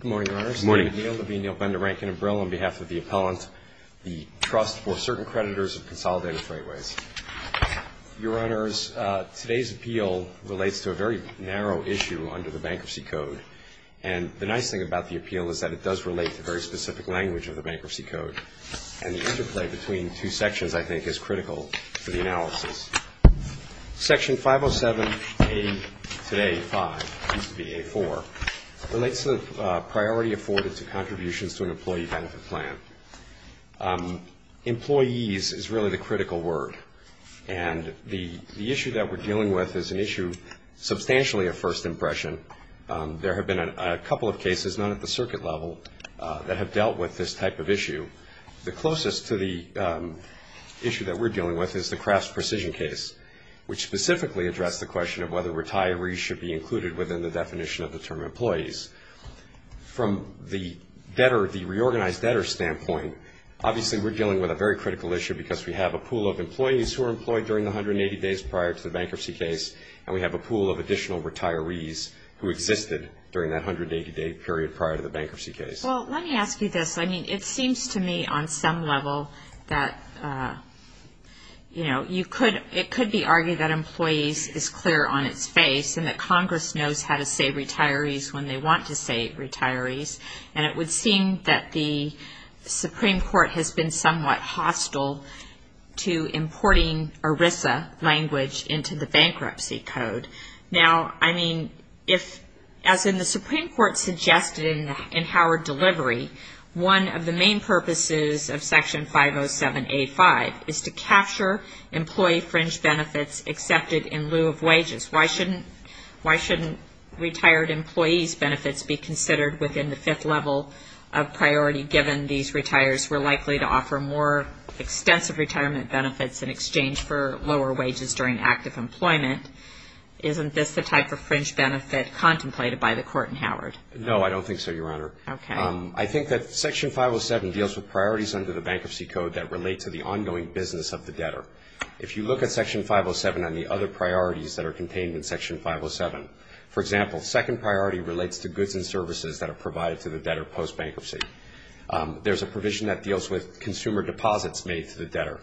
Good morning, Your Honors. Good morning. My name is Neil Levine. I'll bend the rank and umbrella on behalf of the appellant. The trust for certain creditors of Consolidated Freightways. Your Honors, today's appeal relates to a very narrow issue under the Bankruptcy Code. And the nice thing about the appeal is that it does relate to very specific language of the Bankruptcy Code. And the interplay between two sections, I think, is critical for the analysis. Section 507A-5, used to be A-4, relates to the priority afforded to contributions to an employee-benefit plan. Employees is really the critical word. And the issue that we're dealing with is an issue substantially of first impression. There have been a couple of cases, none at the circuit level, that have dealt with this type of issue. The closest to the issue that we're dealing with is the Kraft's Precision case, which specifically addressed the question of whether retirees should be included within the definition of the term employees. From the debtor, the reorganized debtor standpoint, obviously we're dealing with a very critical issue because we have a pool of employees who are employed during the 180 days prior to the bankruptcy case, and we have a pool of additional retirees who existed during that 180-day period prior to the bankruptcy case. Well, let me ask you this. I mean, it seems to me on some level that, you know, it could be argued that employees is clear on its face and that Congress knows how to say retirees when they want to say retirees, and it would seem that the Supreme Court has been somewhat hostile to importing ERISA language into the Bankruptcy Code. Now, I mean, as the Supreme Court suggested in Howard Delivery, one of the main purposes of Section 507A5 is to capture employee fringe benefits accepted in lieu of wages. Why shouldn't retired employees' benefits be considered within the fifth level of priority, given these retirees were likely to offer more extensive retirement benefits in exchange for lower wages during active employment? Isn't this the type of fringe benefit contemplated by the Court in Howard? No, I don't think so, Your Honor. Okay. I think that Section 507 deals with priorities under the Bankruptcy Code that relate to the ongoing business of the debtor. If you look at Section 507 and the other priorities that are contained in Section 507, for example, second priority relates to goods and services that are provided to the debtor post-bankruptcy. There's a provision that deals with consumer deposits made to the debtor,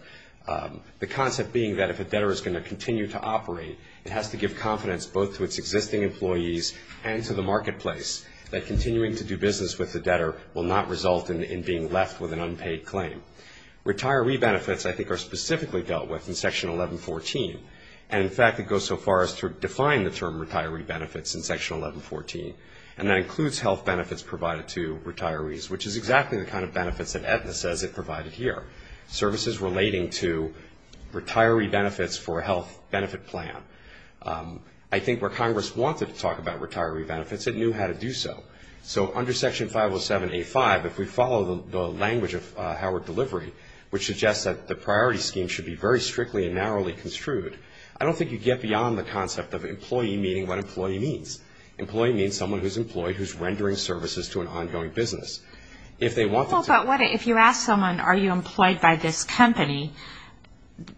the concept being that if a debtor is going to continue to operate, it has to give confidence both to its existing employees and to the marketplace that continuing to do business with the debtor will not result in being left with an unpaid claim. Retiree benefits, I think, are specifically dealt with in Section 1114, and, in fact, it goes so far as to define the term retiree benefits in Section 1114, and that includes health benefits provided to retirees, which is exactly the kind of benefits that Aetna says it provided here, services relating to retiree benefits for a health benefit plan. I think where Congress wanted to talk about retiree benefits, it knew how to do so. So under Section 507A5, if we follow the language of Howard Delivery, which suggests that the priority scheme should be very strictly and narrowly construed, I don't think you get beyond the concept of employee meaning what employee means. Employee means someone who's employed, who's rendering services to an ongoing business. If they want to. Well, but what if you ask someone, are you employed by this company,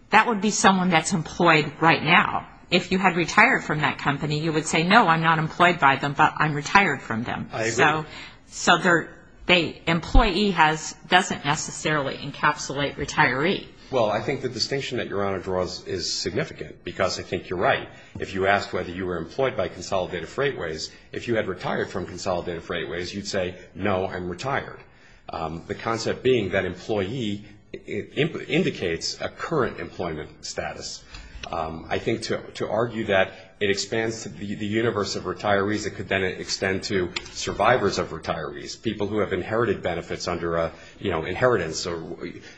that would be someone that's employed right now. If you had retired from that company, you would say, no, I'm not employed by them, but I'm retired from them. I agree. So the employee doesn't necessarily encapsulate retiree. Well, I think the distinction that Your Honor draws is significant because I think you're right. If you asked whether you were employed by Consolidated Freightways, if you had retired from Consolidated Freightways, you'd say, no, I'm retired. The concept being that employee indicates a current employment status. I think to argue that it expands the universe of retirees, it could then extend to survivors of retirees, people who have inherited benefits under, you know, inheritance.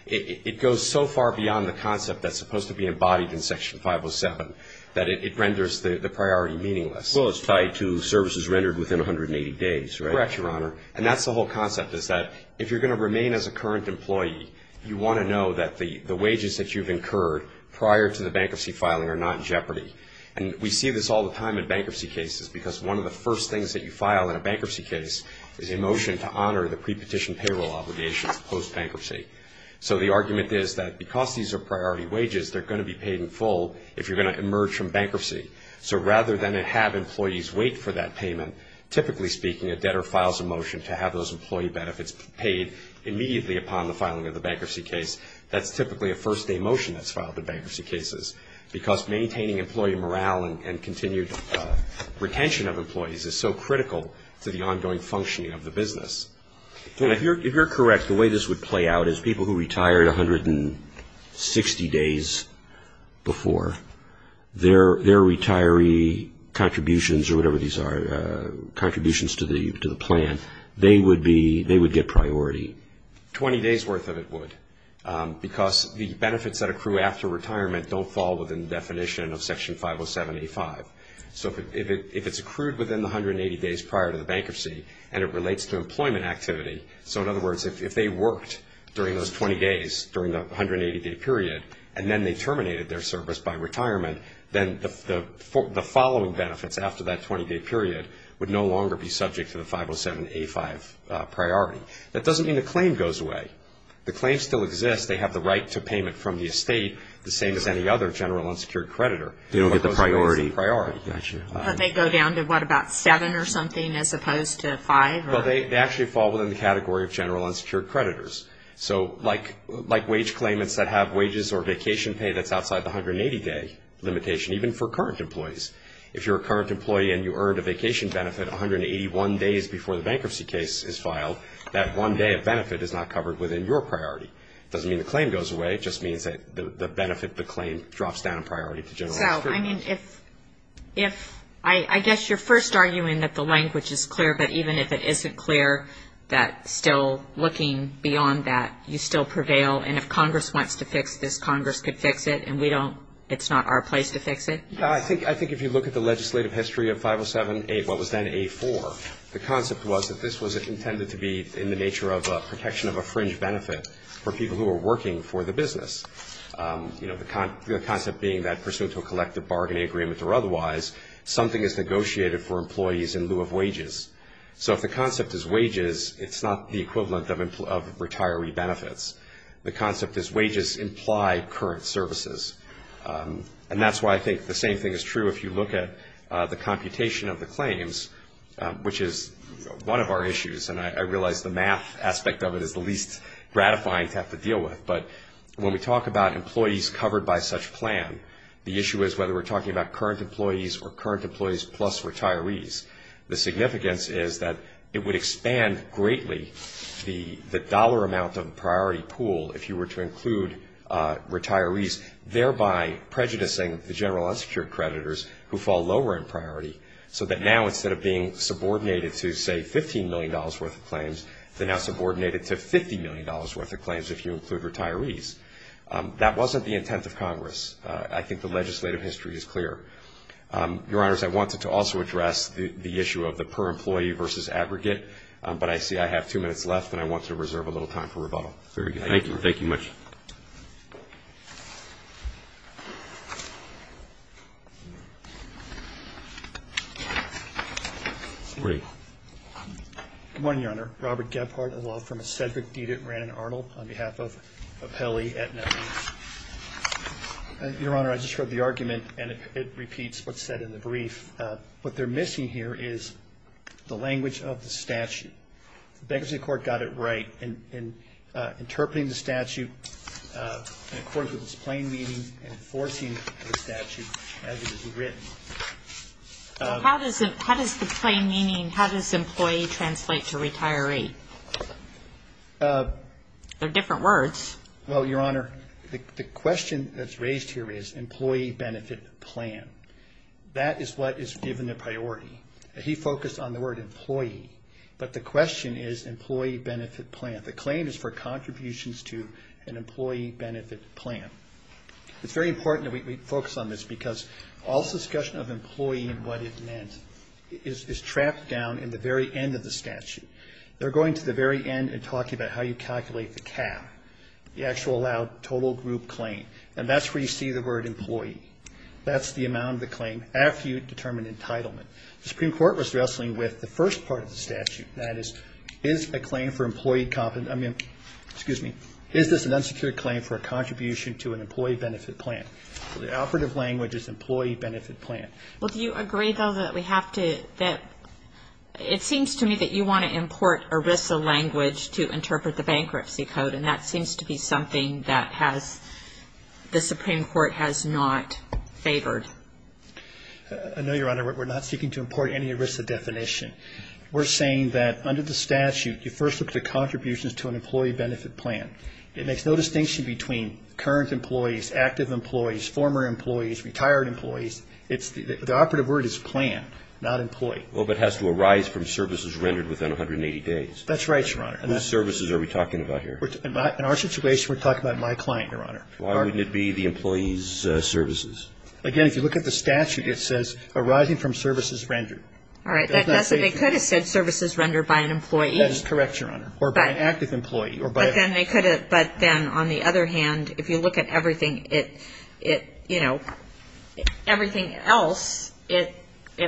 It goes so far beyond the concept that's supposed to be embodied in Section 507 that it renders the priority meaningless. Well, it's tied to services rendered within 180 days, right? Correct, Your Honor. And that's the whole concept is that if you're going to remain as a current employee, you want to know that the wages that you've incurred prior to the bankruptcy filing are not in jeopardy. And we see this all the time in bankruptcy cases because one of the first things that you file in a bankruptcy case is a motion to honor the pre-petition payroll obligations post-bankruptcy. So the argument is that because these are priority wages, they're going to be paid in full if you're going to emerge from bankruptcy. So rather than have employees wait for that payment, typically speaking, a debtor files a motion to have those employee benefits paid immediately upon the filing of the bankruptcy case. That's typically a first-day motion that's filed in bankruptcy cases because maintaining employee morale and continued retention of employees is so critical to the ongoing functioning of the business. Your Honor, if you're correct, the way this would play out is people who retired 160 days before, their retiree contributions or whatever these are, contributions to the plan, they would get priority. 20 days worth of it would because the benefits that accrue after retirement don't fall within the definition of Section 507A5. So if it's accrued within the 180 days prior to the bankruptcy and it relates to employment activity, so in other words, if they worked during those 20 days during the 180-day period and then they terminated their service by retirement, then the following benefits after that 20-day period would no longer be subject to the 507A5 priority. That doesn't mean the claim goes away. The claim still exists. They have the right to payment from the estate, the same as any other general unsecured creditor. They don't get the priority. But they go down to, what, about seven or something as opposed to five? Well, they actually fall within the category of general unsecured creditors. So like wage claimants that have wages or vacation pay that's outside the 180-day limitation, even for current employees. If you're a current employee and you earned a vacation benefit 181 days before the bankruptcy case is filed, that one day of benefit is not covered within your priority. It doesn't mean the claim goes away. It just means that the benefit, the claim, drops down in priority to general unsecured. So, I mean, if I guess you're first arguing that the language is clear, but even if it isn't clear that still looking beyond that, you still prevail, and if Congress wants to fix this, Congress could fix it, and we don't, it's not our place to fix it? I think if you look at the legislative history of 507-A, what was then A-4, the concept was that this was intended to be in the nature of protection of a fringe benefit for people who were working for the business. You know, the concept being that pursuant to a collective bargaining agreement or otherwise, something is negotiated for employees in lieu of wages. So if the concept is wages, it's not the equivalent of retiree benefits. The concept is wages imply current services. And that's why I think the same thing is true if you look at the computation of the claims, which is one of our issues, and I realize the math aspect of it is the least gratifying to have to deal with, but when we talk about employees covered by such plan, the issue is whether we're talking about current employees or current employees plus retirees. The significance is that it would expand greatly the dollar amount of priority pool if you were to include retirees, thereby prejudicing the general unsecured creditors who fall lower in priority, so that now instead of being subordinated to, say, $15 million worth of claims, they're now subordinated to $50 million worth of claims if you include retirees. That wasn't the intent of Congress. I think the legislative history is clear. Your Honors, I wanted to also address the issue of the per-employee versus aggregate, but I see I have two minutes left and I want to reserve a little time for rebuttal. Thank you. Thank you much. Good morning, Your Honor. Robert Gebhardt, a law firm, a Sedgwick deedit, and Brandon Arnold on behalf of Apelli, Aetna. Your Honor, I just heard the argument and it repeats what's said in the brief. What they're missing here is the language of the statute. The bankruptcy court got it right in interpreting the statute in accordance with its plain meaning and enforcing the statute as it is written. How does the plain meaning, how does employee translate to retiree? They're different words. Well, Your Honor, the question that's raised here is employee benefit plan. That is what is given the priority. He focused on the word employee, but the question is employee benefit plan. The claim is for contributions to an employee benefit plan. It's very important that we focus on this because all discussion of employee and what it meant is trapped down in the very end of the statute. They're going to the very end and talking about how you calculate the cap, the actual allowed total group claim, and that's where you see the word employee. That's the amount of the claim after you determine entitlement. The Supreme Court was wrestling with the first part of the statute. That is, is a claim for employee competent, I mean, excuse me, is this an unsecured claim for a contribution to an employee benefit plan? The operative language is employee benefit plan. Well, do you agree, though, that we have to, that it seems to me that you want to import ERISA language to interpret the bankruptcy code, and that seems to be something that has, the Supreme Court has not favored. I know, Your Honor, we're not seeking to import any ERISA definition. We're saying that under the statute you first look at the contributions to an employee benefit plan. It makes no distinction between current employees, active employees, former employees, retired employees. The operative word is plan, not employee. Well, but it has to arise from services rendered within 180 days. That's right, Your Honor. Whose services are we talking about here? In our situation, we're talking about my client, Your Honor. Why wouldn't it be the employee's services? Again, if you look at the statute, it says arising from services rendered. All right. They could have said services rendered by an employee. That is correct, Your Honor. Or by an active employee. But then they could have, but then on the other hand, if you look at everything, it, you know, everything else, it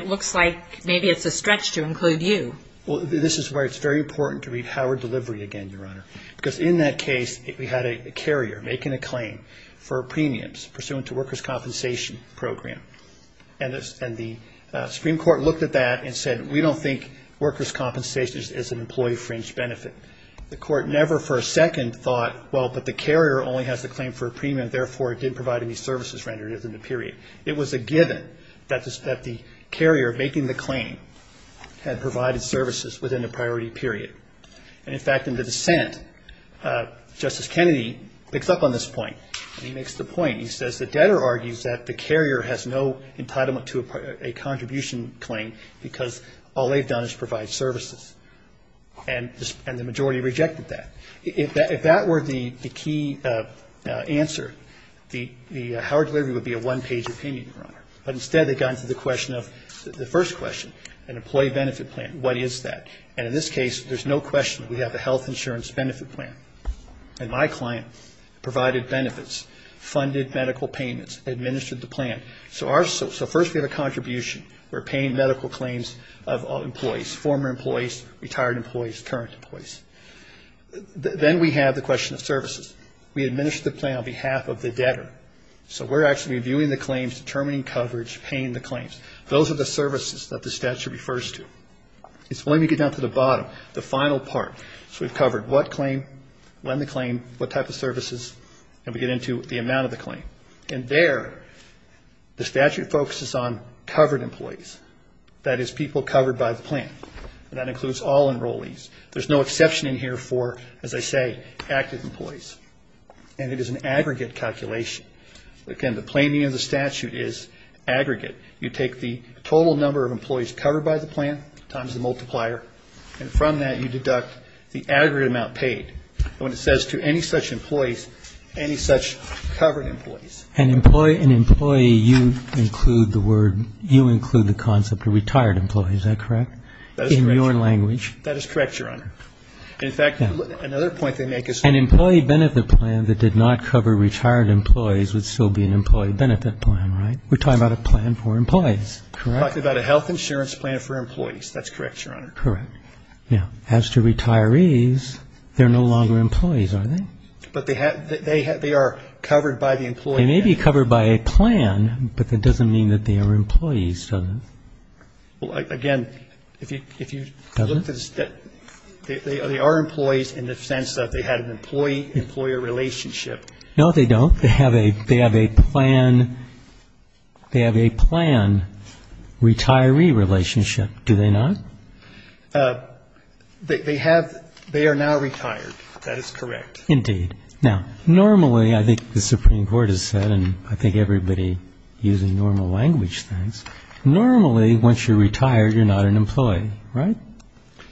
looks like maybe it's a stretch to include you. Well, this is where it's very important to read Howard Delivery again, Your Honor. Because in that case, we had a carrier making a claim for premiums pursuant to workers' compensation program. And the Supreme Court looked at that and said, we don't think workers' compensation is an employee-fringed benefit. The court never for a second thought, well, but the carrier only has the claim for a premium, therefore it didn't provide any services rendered within the period. It was a given that the carrier making the claim had provided services within a priority period. And, in fact, in the dissent, Justice Kennedy picks up on this point. He makes the point, he says, the debtor argues that the carrier has no entitlement to a contribution claim because all they've done is provide services. And the majority rejected that. If that were the key answer, the Howard Delivery would be a one-page opinion, Your Honor. But instead they got into the question of, the first question, an employee benefit plan. What is that? And in this case, there's no question we have a health insurance benefit plan. And my client provided benefits, funded medical payments, administered the plan. So first we have a contribution. We're paying medical claims of employees, former employees, retired employees, current employees. Then we have the question of services. We administer the plan on behalf of the debtor. So we're actually reviewing the claims, determining coverage, paying the claims. Those are the services that the statute refers to. Let me get down to the bottom, the final part. So we've covered what claim, when the claim, what type of services, and we get into the amount of the claim. And there the statute focuses on covered employees, that is, people covered by the plan. And that includes all enrollees. There's no exception in here for, as I say, active employees. And it is an aggregate calculation. Again, the planning of the statute is aggregate. You take the total number of employees covered by the plan times the multiplier, and from that you deduct the aggregate amount paid. And when it says to any such employees, any such covered employees. An employee, you include the word, you include the concept of retired employees, is that correct, in your language? That is correct, Your Honor. In fact, another point they make is... An employee benefit plan that did not cover retired employees would still be an employee benefit plan, right? We're talking about a plan for employees, correct? We're talking about a health insurance plan for employees. That's correct, Your Honor. Correct. Now, as to retirees, they're no longer employees, are they? But they are covered by the employee benefit plan. They may be covered by a plan, but that doesn't mean that they are employees, does it? Well, again, if you... Doesn't? They are employees in the sense that they had an employee-employer relationship. No, they don't. They have a plan... They have a plan-retiree relationship, do they not? They have... They are now retired. That is correct. Indeed. Now, normally, I think the Supreme Court has said, and I think everybody using normal language thinks, normally, once you're retired, you're not an employee, right?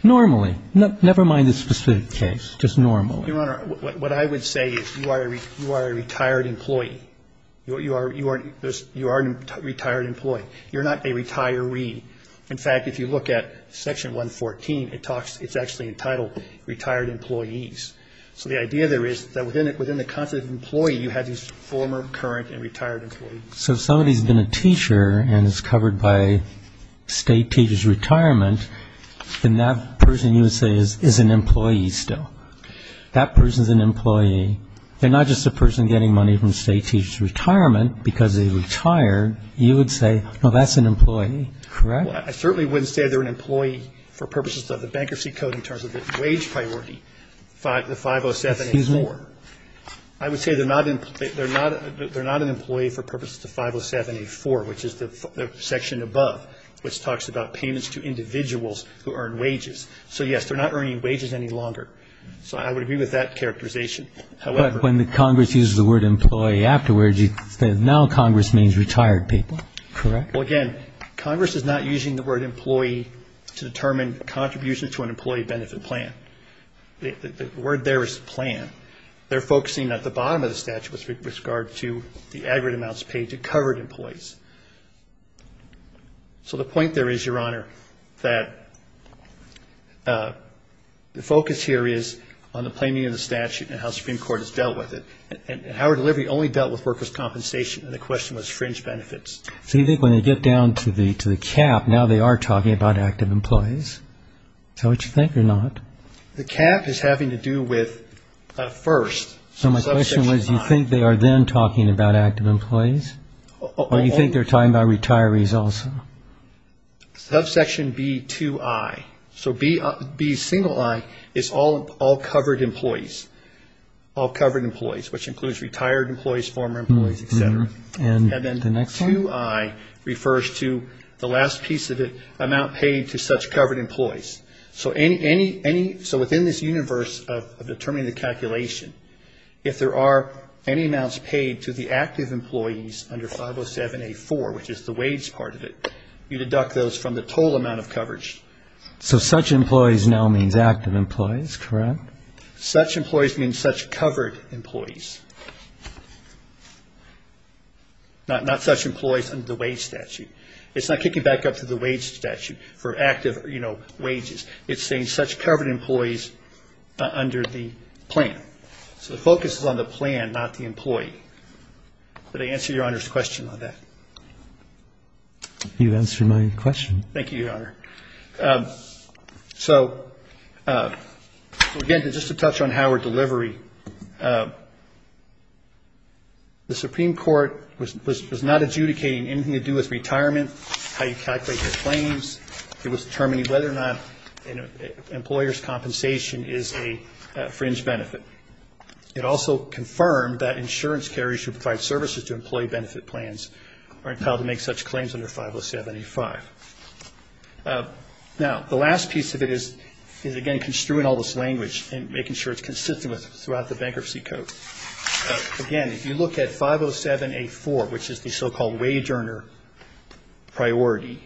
Normally. Never mind the specific case. Just normally. Your Honor, what I would say is you are a retired employee. You are a retired employee. You're not a retiree. In fact, if you look at Section 114, it talks... It's actually entitled Retired Employees. So the idea there is that within the concept of employee, you have these former, current, and retired employees. So if somebody has been a teacher and is covered by state teacher's retirement, then that person, you would say, is an employee still. That person is an employee. They're not just a person getting money from state teacher's retirement because they retired. You would say, no, that's an employee. Correct? I certainly wouldn't say they're an employee for purposes of the Bankruptcy Code in terms of the wage priority, the 507A4. Excuse me. I would say they're not an employee for purposes of 507A4, which is the section above, which talks about payments to individuals who earn wages. So, yes, they're not earning wages any longer. So I would agree with that characterization. However... But when the Congress uses the word employee afterwards, it says now Congress means retired people. Correct? Well, again, Congress is not using the word employee to determine contributions to an employee benefit plan. The word there is plan. They're focusing at the bottom of the statute with regard to the aggregate amounts paid to covered employees. So the point there is, Your Honor, that the focus here is on the planning of the statute and how Supreme Court has dealt with it. And Howard Delivery only dealt with workers' compensation, and the question was fringe benefits. So you think when they get down to the cap, now they are talking about active employees. Is that what you think or not? The cap is having to do with first. So my question was, you think they are then talking about active employees? Or you think they're talking about retirees also? Subsection B2I. So B single I is all covered employees, all covered employees, which includes retired employees, former employees, et cetera. And then the next one? B2I refers to the last piece of it, amount paid to such covered employees. So within this universe of determining the calculation, if there are any amounts paid to the active employees under 507A4, which is the wage part of it, you deduct those from the total amount of coverage. So such employees now means active employees, correct? Such employees means such covered employees. Not such employees under the wage statute. It's not kicking back up to the wage statute for active wages. It's saying such covered employees under the plan. So the focus is on the plan, not the employee. Did I answer Your Honor's question on that? You answered my question. Thank you, Your Honor. So, again, just to touch on Howard Delivery, the Supreme Court was not adjudicating anything to do with retirement, how you calculate your claims. It was determining whether or not an employer's compensation is a fringe benefit. It also confirmed that insurance carriers who provide services to employee benefit plans are entitled to make such claims under 507A5. Now, the last piece of it is, again, construing all this language and making sure it's consistent throughout the Bankruptcy Code. Again, if you look at 507A4, which is the so-called wage earner priority,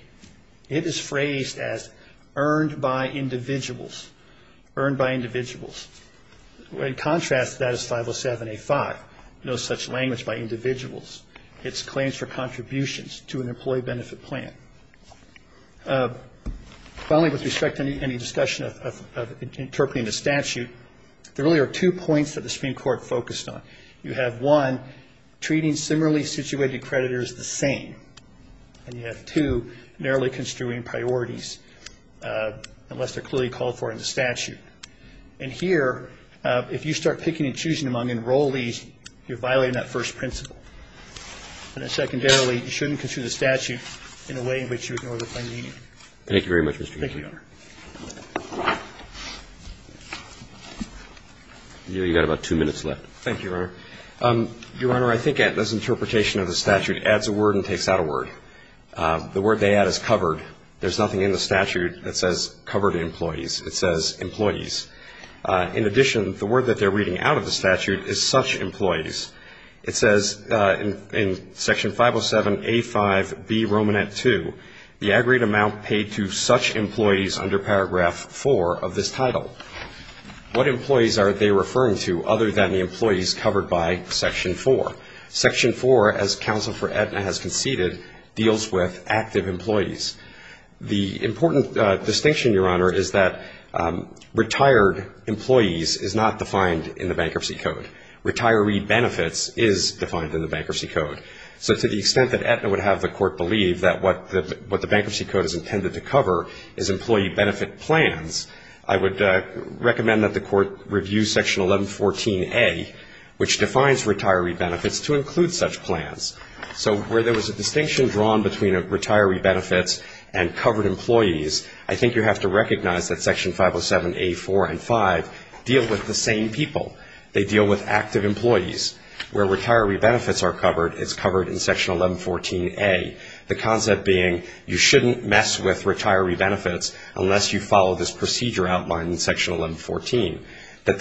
it is phrased as earned by individuals, earned by individuals. In contrast, that is 507A5, no such language by individuals. It's claims for contributions to an employee benefit plan. Finally, with respect to any discussion of interpreting the statute, there really are two points that the Supreme Court focused on. You have, one, treating similarly situated creditors the same, and you have, two, narrowly construing priorities unless they're clearly called for in the statute. And here, if you start picking and choosing among enrollees, you're violating that first principle. And then secondarily, you shouldn't construe the statute in a way in which you ignore the plain meaning. Thank you very much, Mr. Chief. Thank you, Your Honor. You've got about two minutes left. Thank you, Your Honor. Your Honor, I think this interpretation of the statute adds a word and takes out a word. The word they add is covered. There's nothing in the statute that says covered employees. It says employees. In addition, the word that they're reading out of the statute is such employees. It says in Section 507A5B, Romanette 2, the aggregate amount paid to such employees under Paragraph 4 of this title. What employees are they referring to other than the employees covered by Section 4? Section 4, as Counsel for Aetna has conceded, deals with active employees. The important distinction, Your Honor, is that retired employees is not defined in the Bankruptcy Code. Retiree benefits is defined in the Bankruptcy Code. So to the extent that Aetna would have the Court believe that what the Bankruptcy Code is intended to cover is employee benefit plans, I would recommend that the Court review Section 1114A, which defines retiree benefits, to include such plans. So where there was a distinction drawn between retiree benefits and covered employees, I think you have to recognize that Section 507A4 and 5 deal with the same people. They deal with active employees. Where retiree benefits are covered, it's covered in Section 1114A, the concept being you shouldn't mess with retiree benefits unless you follow this procedure outlined in Section 1114. It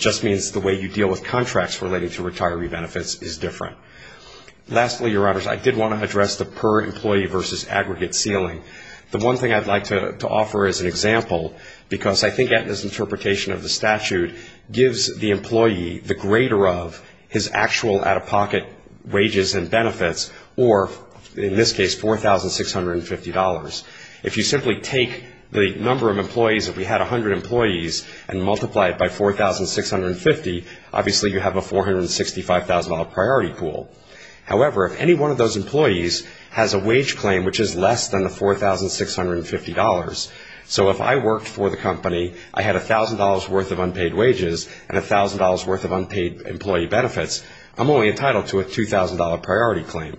just means the way you deal with contracts relating to retiree benefits is different. Lastly, Your Honors, I did want to address the per-employee versus aggregate ceiling. The one thing I'd like to offer as an example, because I think Aetna's interpretation of the statute gives the employee the greater of his actual out-of-pocket wages and benefits, or in this case, $4,650. If you simply take the number of employees, if we had 100 employees, and multiply it by $4,650, obviously you have a $465,000 priority pool. However, if any one of those employees has a wage claim which is less than the $4,650, so if I worked for the company, I had $1,000 worth of unpaid wages and $1,000 worth of unpaid employee benefits, I'm only entitled to a $2,000 priority claim.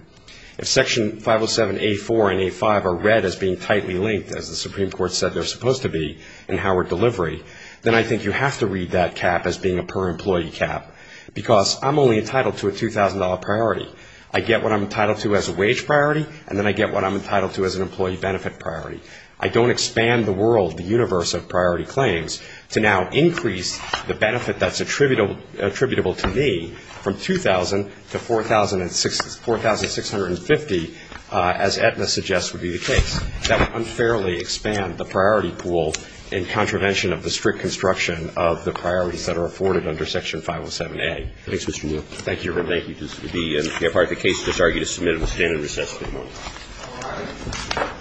If Section 507A4 and A5 are read as being tightly linked, as the Supreme Court said they're supposed to be, in Howard Delivery, then I think you have to read that cap as being a per-employee cap, because I'm only entitled to a $2,000 priority. I get what I'm entitled to as a wage priority, and then I get what I'm entitled to as an employee benefit priority. I don't expand the world, the universe of priority claims, to now increase the benefit that's attributable to me from $2,000 to $4,650, as Aetna suggests would be the case. That would unfairly expand the priority pool in contravention of the strict construction of the priorities that are afforded under Section 507A. Thanks, Mr. Muir. Thank you. Mr. Chairman, thank you. This will be part of the case. I just argue to submit it with standing recess. Thank you. Thank you.